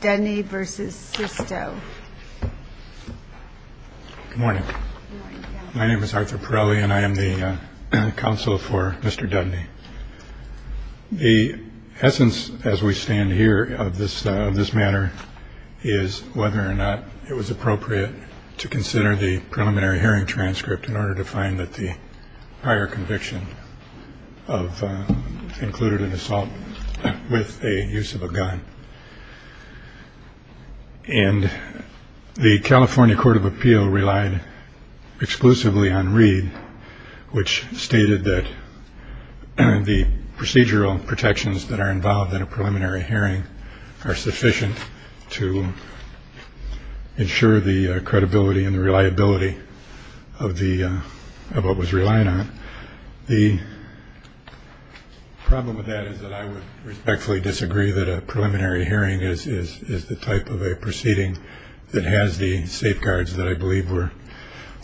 Good morning. My name is Arthur Pirelli and I am the counsel for Mr. Dudney. The essence as we stand here of this matter is whether or not it was appropriate to consider the preliminary hearing transcript in order to find that the higher conviction of included an assault with a use of a gun. And the California Court of Appeal relied exclusively on Reed, which stated that the procedural protections that are involved in a preliminary hearing are sufficient to ensure the credibility and reliability of what was relied on. The problem with that is that I would respectfully disagree that a preliminary hearing is the type of a proceeding that has the safeguards that I believe were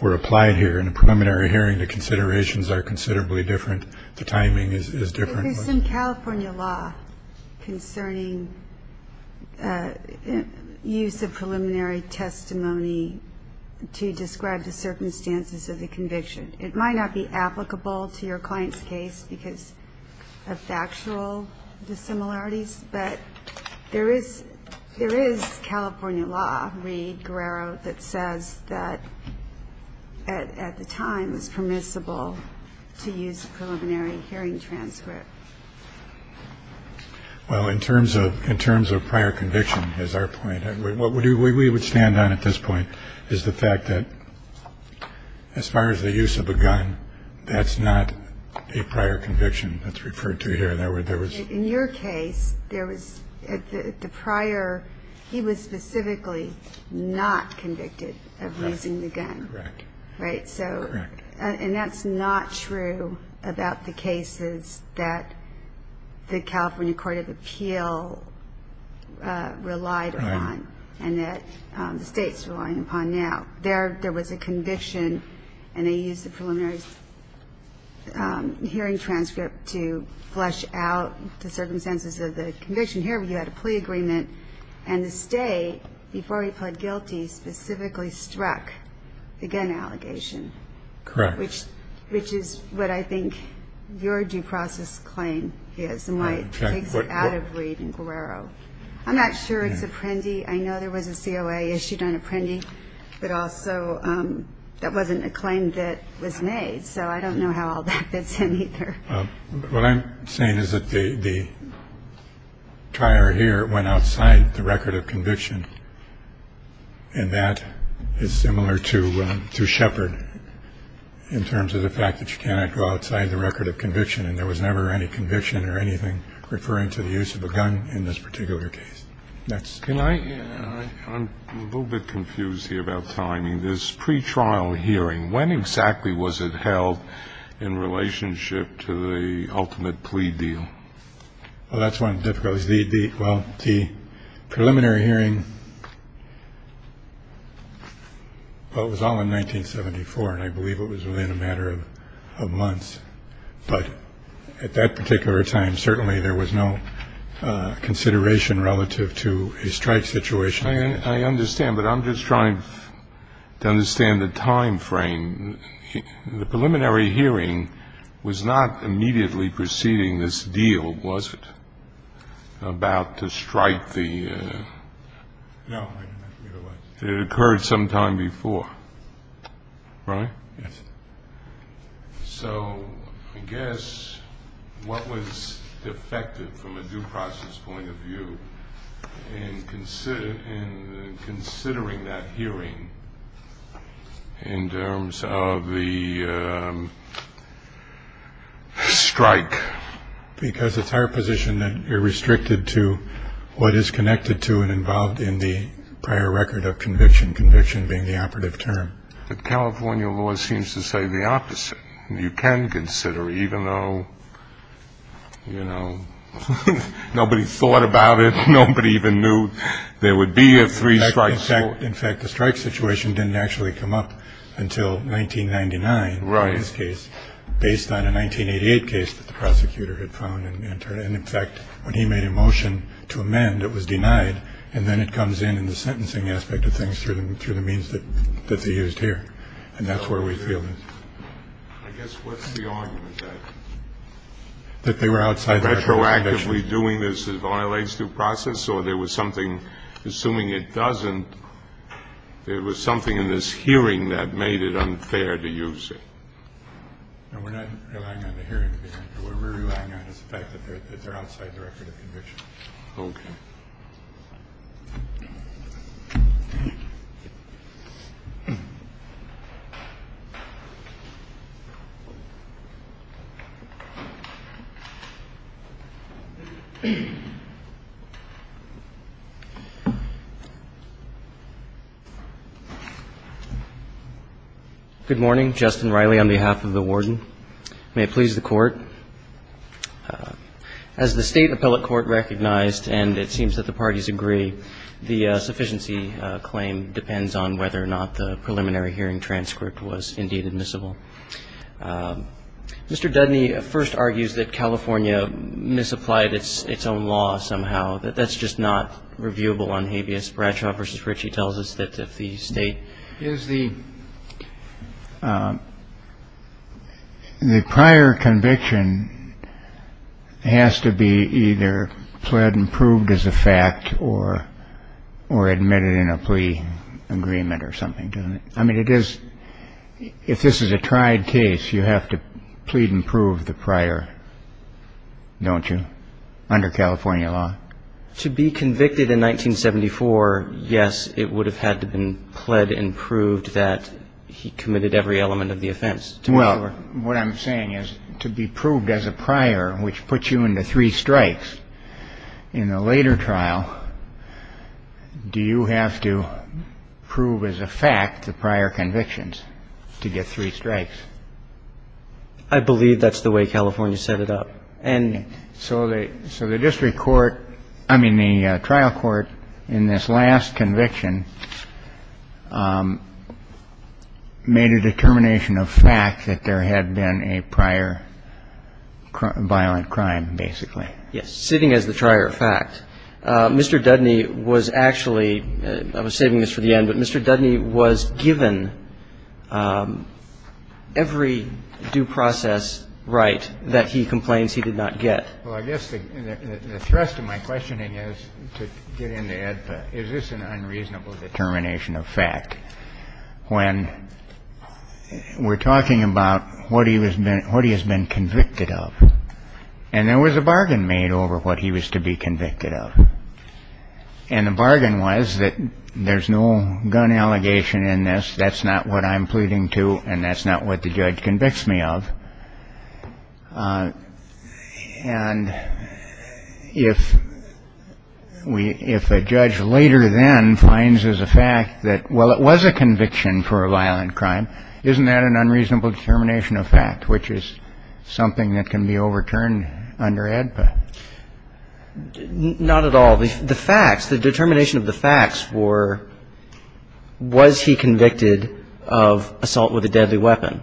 applied here in a preliminary hearing. The considerations are considerably different. The timing is different. There is some California law concerning use of preliminary testimony to describe the circumstances of the conviction. It might not be applicable to your client's case because of factual dissimilarities, but there is California law, Reed, Guerrero, that says that at the time it was permissible to use a preliminary hearing transcript. Well, in terms of prior conviction is our point. What we would stand on at this point is the fact that as far as the use of a gun, that's not a prior conviction that's referred to here. In your case, he was specifically not convicted of using the gun. Correct. And that's not true about the cases that the California Court of Appeal relied upon and that the states rely upon now. There was a conviction, and they used the preliminary hearing transcript to flesh out the circumstances of the conviction. Here you had a plea agreement, and the state, before he pled guilty, specifically struck the gun allegation. Correct. Which is what I think your due process claim is and why it takes it out of Reed and Guerrero. I'm not sure it's Apprendi. I know there was a COA issued on Apprendi, but also that wasn't a claim that was made, so I don't know how all that fits in either. What I'm saying is that the prior here went outside the record of conviction, and that is similar to Shepard in terms of the fact that you cannot go outside the record of conviction and there was never any conviction or anything referring to the use of a gun in this particular case. Can I? I'm a little bit confused here about timing. This pretrial hearing, when exactly was it held in relationship to the ultimate plea deal? Well, that's one of the difficulties. Well, the preliminary hearing, well, it was all in 1974, and I believe it was within a matter of months. But at that particular time, certainly there was no consideration relative to a strike situation. I understand, but I'm just trying to understand the time frame. The preliminary hearing was not immediately preceding this deal, was it, about to strike the? No. It occurred sometime before. Right? Yes. So I guess what was effective from a due process point of view in considering that hearing in terms of the strike? Because it's our position that you're restricted to what is connected to and involved in the prior record of conviction, conviction being the operative term. But California law seems to say the opposite. You can consider, even though, you know, nobody thought about it, nobody even knew there would be a three-strike court. In fact, the strike situation didn't actually come up until 1999 in this case, based on a 1988 case that the prosecutor had found and entered. And, in fact, when he made a motion to amend, it was denied, and then it comes in in the sentencing aspect of things through the means that they used here. And that's where we feel it. I guess what's the argument, then? That they were outside the record of conviction. Retroactively doing this violates due process, or there was something, assuming it doesn't, there was something in this hearing that made it unfair to use it. No, we're not relying on the hearing. What we're relying on is the fact that they're outside the record of conviction. Okay. Good morning. Justin Riley on behalf of the Warden. May it please the Court. As the State Appellate Court recognized, and it seems that the parties agree, the sufficiency claim depends on whether or not the preliminary hearing transcript was indeed admissible. Mr. Dudney first argues that California misapplied its own law somehow, that that's just not reviewable on habeas. Bradshaw v. Ritchie tells us that if the State ---- The prior conviction has to be either pled and proved as a fact or admitted in a plea agreement or something, doesn't it? I mean, it is, if this is a tried case, you have to plead and prove the prior, don't you, under California law? To be convicted in 1974, yes, it would have had to been pled and proved that he committed every element of the offense. Well, what I'm saying is to be proved as a prior, which puts you into three strikes, in the later trial, do you have to prove as a fact the prior convictions to get three strikes? I believe that's the way California set it up. And so the district court ---- I mean, the trial court in this last conviction made a determination of fact that there had been a prior violent crime, basically. Yes, sitting as the prior fact. Mr. Dudney was actually ---- I was saving this for the end, but Mr. Dudney was given every due process right that he complains he did not get. Well, I guess the thrust of my questioning is to get into EDPA. Is this an unreasonable determination of fact when we're talking about what he was been ---- what he has been convicted of? And there was a bargain made over what he was to be convicted of. And the bargain was that there's no gun allegation in this. That's not what I'm pleading to, and that's not what the judge convicts me of. And if we ---- if a judge later then finds as a fact that, well, it was a conviction for a violent crime, isn't that an unreasonable determination of fact, which is something that can be overturned under EDPA? Not at all. The facts, the determination of the facts were, was he convicted of assault with a deadly weapon?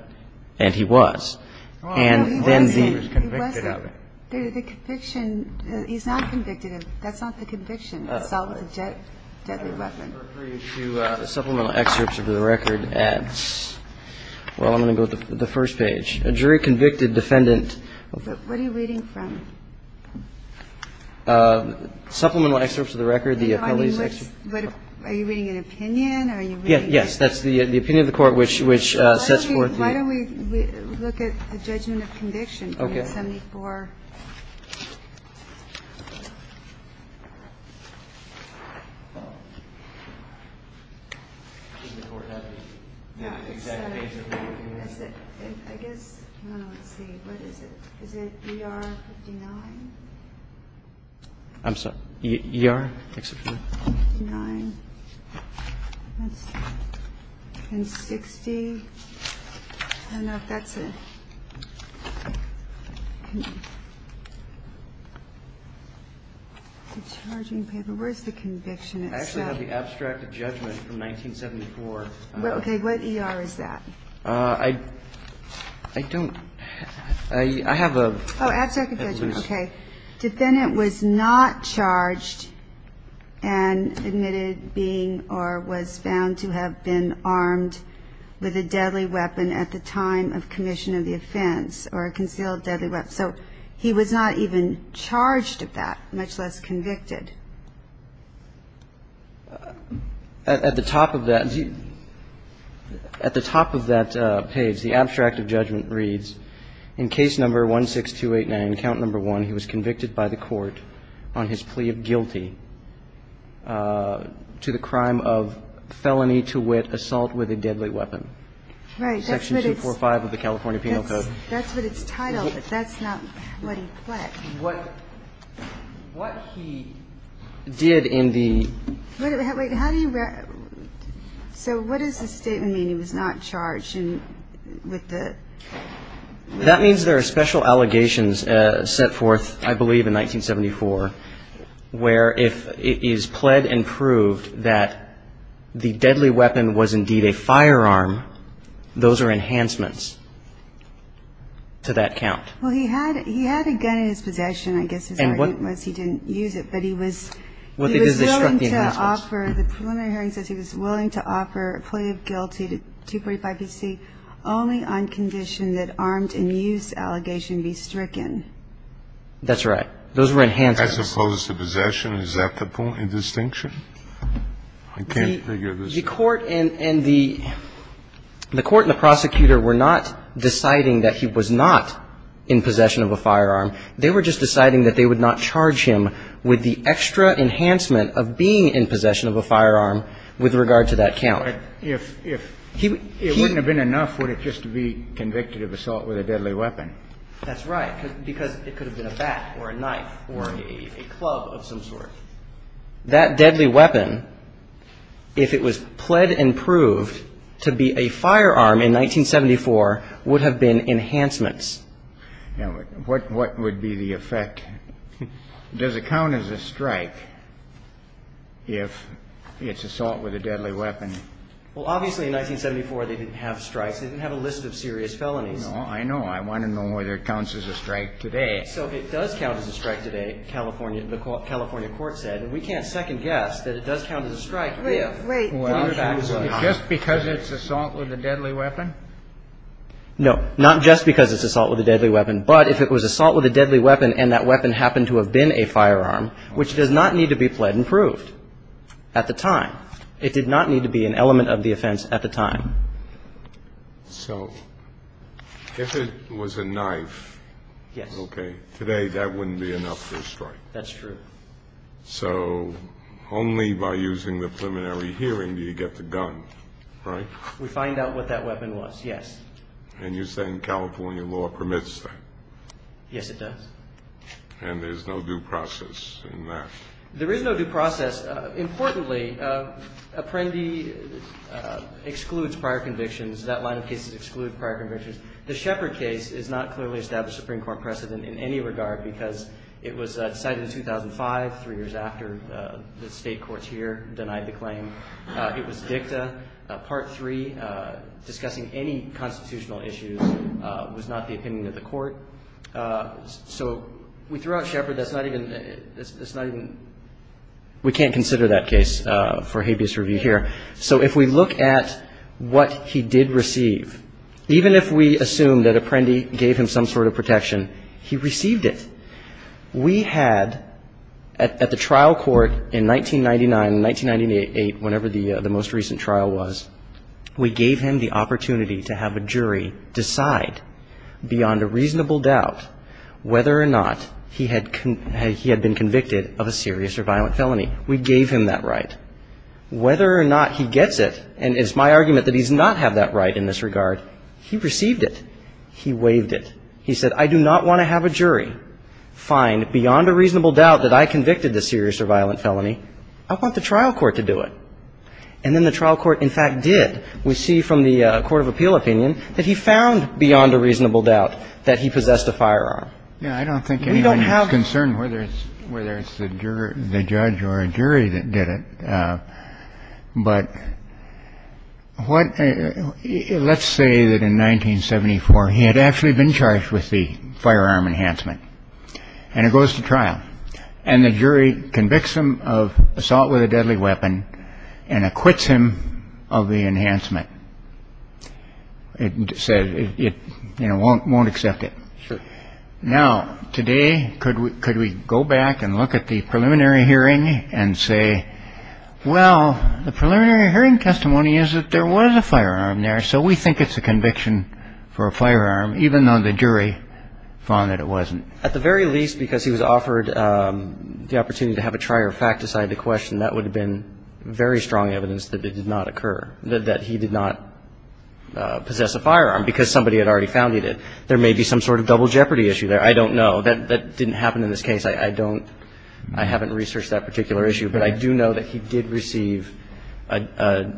And he was. And then the ---- No, he wasn't. He wasn't. The conviction ---- he's not convicted of ---- that's not the conviction, assault with a deadly weapon. Supplemental excerpts of the record at ---- well, I'm going to go to the first page. A jury convicted defendant ---- What are you reading from? Supplemental excerpts of the record, the appellee's ---- Are you reading an opinion? Are you reading ---- Yes, that's the opinion of the court, which sets forth the ---- Why don't we look at the judgment of conviction? Okay. The court has the exact page number. I guess ---- let's see, what is it? Is it ER59? I'm sorry? ER, exception? 59. And 60. I don't know if that's a charging paper. Where is the conviction itself? I actually have the abstract of judgment from 1974. Okay. What ER is that? I don't ---- I have a ---- Oh, abstract of judgment. Okay. Defendant was not charged and admitted being or was found to have been armed with a deadly weapon at the time of commission of the offense or a concealed deadly weapon. So he was not even charged with that, much less convicted. At the top of that page, the abstract of judgment reads, In case number 16289, count number 1, he was convicted by the court on his plea of guilty to the crime of felony to wit, assault with a deadly weapon. Right. Section 245 of the California Penal Code. That's what it's titled, but that's not what he fled. What he did in the ---- Wait, how do you ---- So what does the statement mean he was not charged with the ---- That means there are special allegations set forth, I believe, in 1974, where if it is pled and proved that the deadly weapon was indeed a firearm, those are enhancements to that count. Well, he had a gun in his possession. I guess his argument was he didn't use it, but he was ---- He was willing to offer, the preliminary hearing says he was willing to offer a plea of guilty to 245bc only on condition that armed and used allegation be stricken. That's right. Those were enhancements. As opposed to possession. Is that the point of distinction? I can't figure this out. The court and the prosecutor were not deciding that he was not in possession of a firearm. They were just deciding that they would not charge him with the extra enhancement of being in possession of a firearm with regard to that count. But if it wouldn't have been enough, would it just be convicted of assault with a deadly weapon? That's right, because it could have been a bat or a knife or a club of some sort. That deadly weapon, if it was pled and proved to be a firearm in 1974, would have been enhancements. What would be the effect? Does it count as a strike if it's assault with a deadly weapon? Well, obviously, in 1974, they didn't have strikes. They didn't have a list of serious felonies. No, I know. I want to know whether it counts as a strike today. So if it does count as a strike today, California, the California court said, and we can't second guess that it does count as a strike if. Wait. Just because it's assault with a deadly weapon? No. Not just because it's assault with a deadly weapon. But if it was assault with a deadly weapon and that weapon happened to have been a firearm, which does not need to be pled and proved at the time. It did not need to be an element of the offense at the time. So if it was a knife. Yes. Okay. Today, that wouldn't be enough for a strike. That's true. So only by using the preliminary hearing do you get the gun, right? We find out what that weapon was, yes. And you're saying California law permits that? Yes, it does. And there's no due process in that? There is no due process. Importantly, Apprendi excludes prior convictions. That line of cases excludes prior convictions. The Shepard case is not clearly established Supreme Court precedent in any regard because it was decided in 2005, three years after the state courts here denied the claim. It was dicta. Part three, discussing any constitutional issues was not the opinion of the court. So we threw out Shepard. That's not even we can't consider that case for habeas review here. So if we look at what he did receive, even if we assume that Apprendi gave him some sort of protection, he received it. We had at the trial court in 1999, 1998, whenever the most recent trial was, we gave him the opportunity to have a jury decide beyond a reasonable doubt whether or not he had been convicted of a serious or violent felony. We gave him that right. Whether or not he gets it, and it's my argument that he does not have that right in this regard, he received it. He waived it. So the jury found beyond a reasonable doubt that I convicted the serious or violent felony. I want the trial court to do it. And then the trial court in fact did. We see from the court of appeal opinion that he found beyond a reasonable doubt that he possessed a firearm. We don't have concern whether it's the judge or a jury that did it. But what let's say that in 1974 he had actually been charged with the firearm enhancement and it goes to trial and the jury convicts him of assault with a deadly weapon and acquits him of the enhancement. It says it won't won't accept it. Now, today, could we go back and look at the preliminary hearing and say, well, the preliminary hearing testimony is that there was a firearm there, so we think it's a conviction for a firearm, even though the jury found that it wasn't. At the very least, because he was offered the opportunity to have a trier fact decide the question, that would have been very strong evidence that it did not occur, that he did not possess a firearm because somebody had already founded it. I don't know that it's a double jeopardy issue. I do know that there may be some sort of double jeopardy issue there. I don't know that that didn't happen in this case. I don't I haven't researched that particular issue, but I do know that he did receive a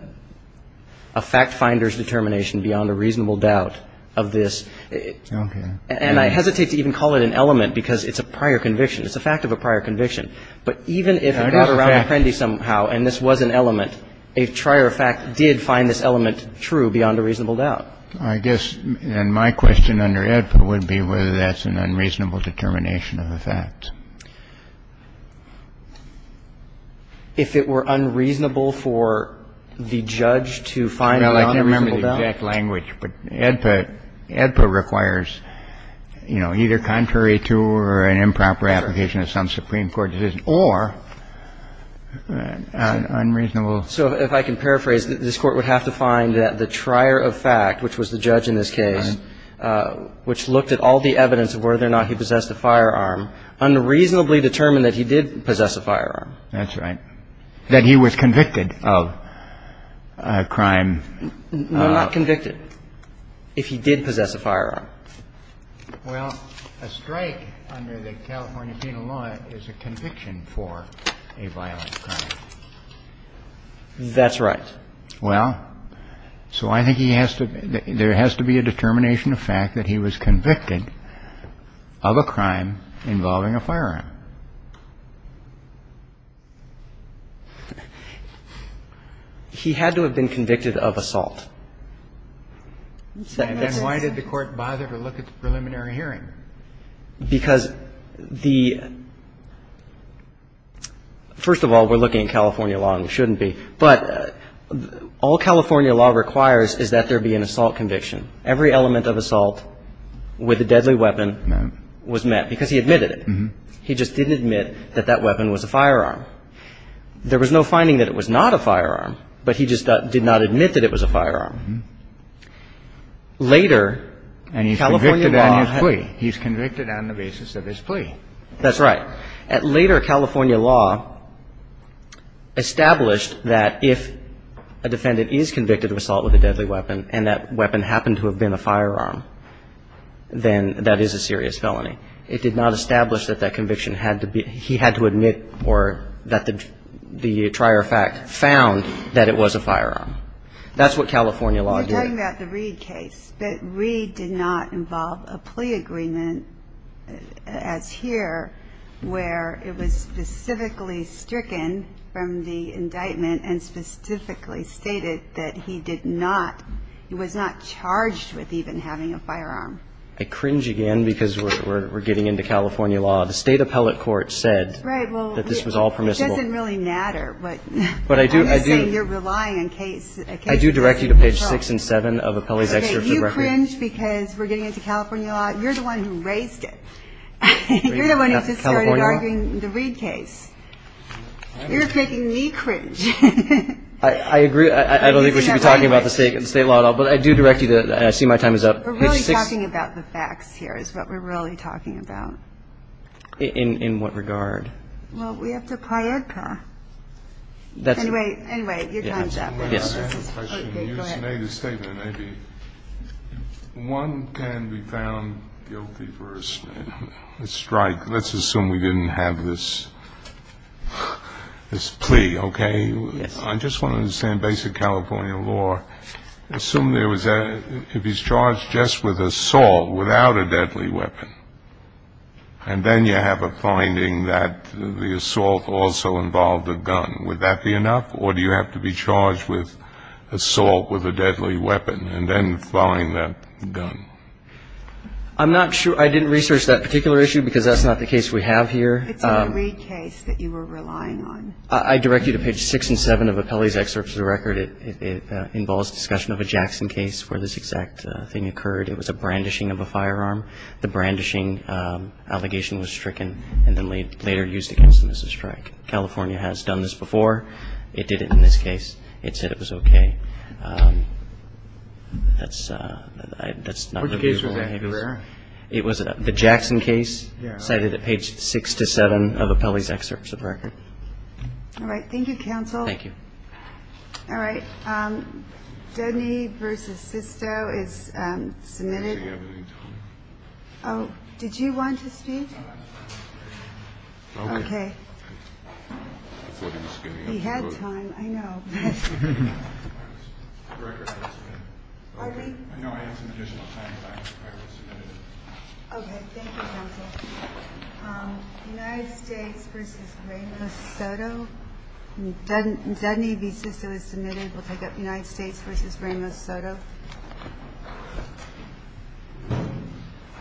fact finder's determination beyond a reasonable doubt of this. And I hesitate to even call it an element because it's a prior conviction. It's a fact of a prior conviction. But even if it got around Apprendi somehow and this was an element, a trier fact did find this element true beyond a reasonable doubt. I guess my question under AEDPA would be whether that's an unreasonable determination of a fact. If it were unreasonable for the judge to find it beyond a reasonable doubt. Well, I can't remember the exact language. But AEDPA requires, you know, either contrary to or an improper application of some Supreme Court decision. Or unreasonable. So if I can paraphrase, this Court would have to find that the trier of fact, which was the judge in this case, which looked at all the evidence of whether or not he possessed a firearm, unreasonably determined that he did possess a firearm. That's right. That he was convicted of a crime. If he did possess a firearm. Well, a strike under the California Penal Law is a conviction for a violent crime. That's right. Well, so I think he has to be – there has to be a determination of fact that he was convicted of a crime involving a firearm. He had to have been convicted of assault. And why did the Court bother to look at the preliminary hearing? Because the – first of all, we're looking at California law and we shouldn't be. But all California law requires is that there be an assault conviction. Every element of assault with a deadly weapon was met. Because he admitted it. There was no finding that it was not a firearm. But he just did not admit that it was a firearm. Later, California law – And he's convicted on his plea. He's convicted on the basis of his plea. That's right. Later, California law established that if a defendant is convicted of assault with a deadly weapon and that weapon happened to have been a firearm, then that is a serious felony. It did not establish that that conviction had to be – he had to admit or that the prior fact found that it was a firearm. That's what California law did. You're talking about the Reed case. But Reed did not involve a plea agreement as here where it was specifically stricken from the indictment and specifically stated that he did not – he was not charged with even having a firearm. I cringe again because we're getting into California law. The state appellate court said that this was all permissible. Right. Well, it doesn't really matter. But I do – I'm not saying you're relying on case – I do direct you to page 6 and 7 of Appellee's Excerpt to the Record. Okay. You cringe because we're getting into California law. You're the one who raised it. You're the one who started arguing the Reed case. You're making me cringe. I agree. I don't think we should be talking about the state law at all. But I do direct you to – I see my time is up. We're really talking about the facts here is what we're really talking about. In what regard? Well, we have to apply it. Anyway, your time is up. I have a question. You made a statement, maybe. One can be found guilty for a strike. Let's assume we didn't have this plea, okay? Yes. I just want to understand basic California law. Assume there was a – if he's charged just with assault without a deadly weapon and then you have a finding that the assault also involved a gun, would that be enough? Or do you have to be charged with assault with a deadly weapon and then find that gun? I'm not sure. I didn't research that particular issue because that's not the case we have here. It's a Reed case that you were relying on. I direct you to page 6 and 7 of Appellee's Excerpt to the Record. It involves discussion of a Jackson case where this exact thing occurred. It was a brandishing of a firearm. The brandishing allegation was stricken and then later used against him as a strike. California has done this before. It did it in this case. It said it was okay. That's not the view I have. What case was that? It was the Jackson case cited at page 6 to 7 of Appellee's Excerpt to the Record. All right. Thank you, counsel. Thank you. All right. Dudney v. Sisto is submitted. Do we have any time? Oh, did you want to speak? Okay. He had time, I know. I know I had some additional time, but I will submit it. Okay. Thank you, counsel. United States v. Ramos Soto. Dudney v. Sisto is submitted. We'll take up United States v. Ramos Soto.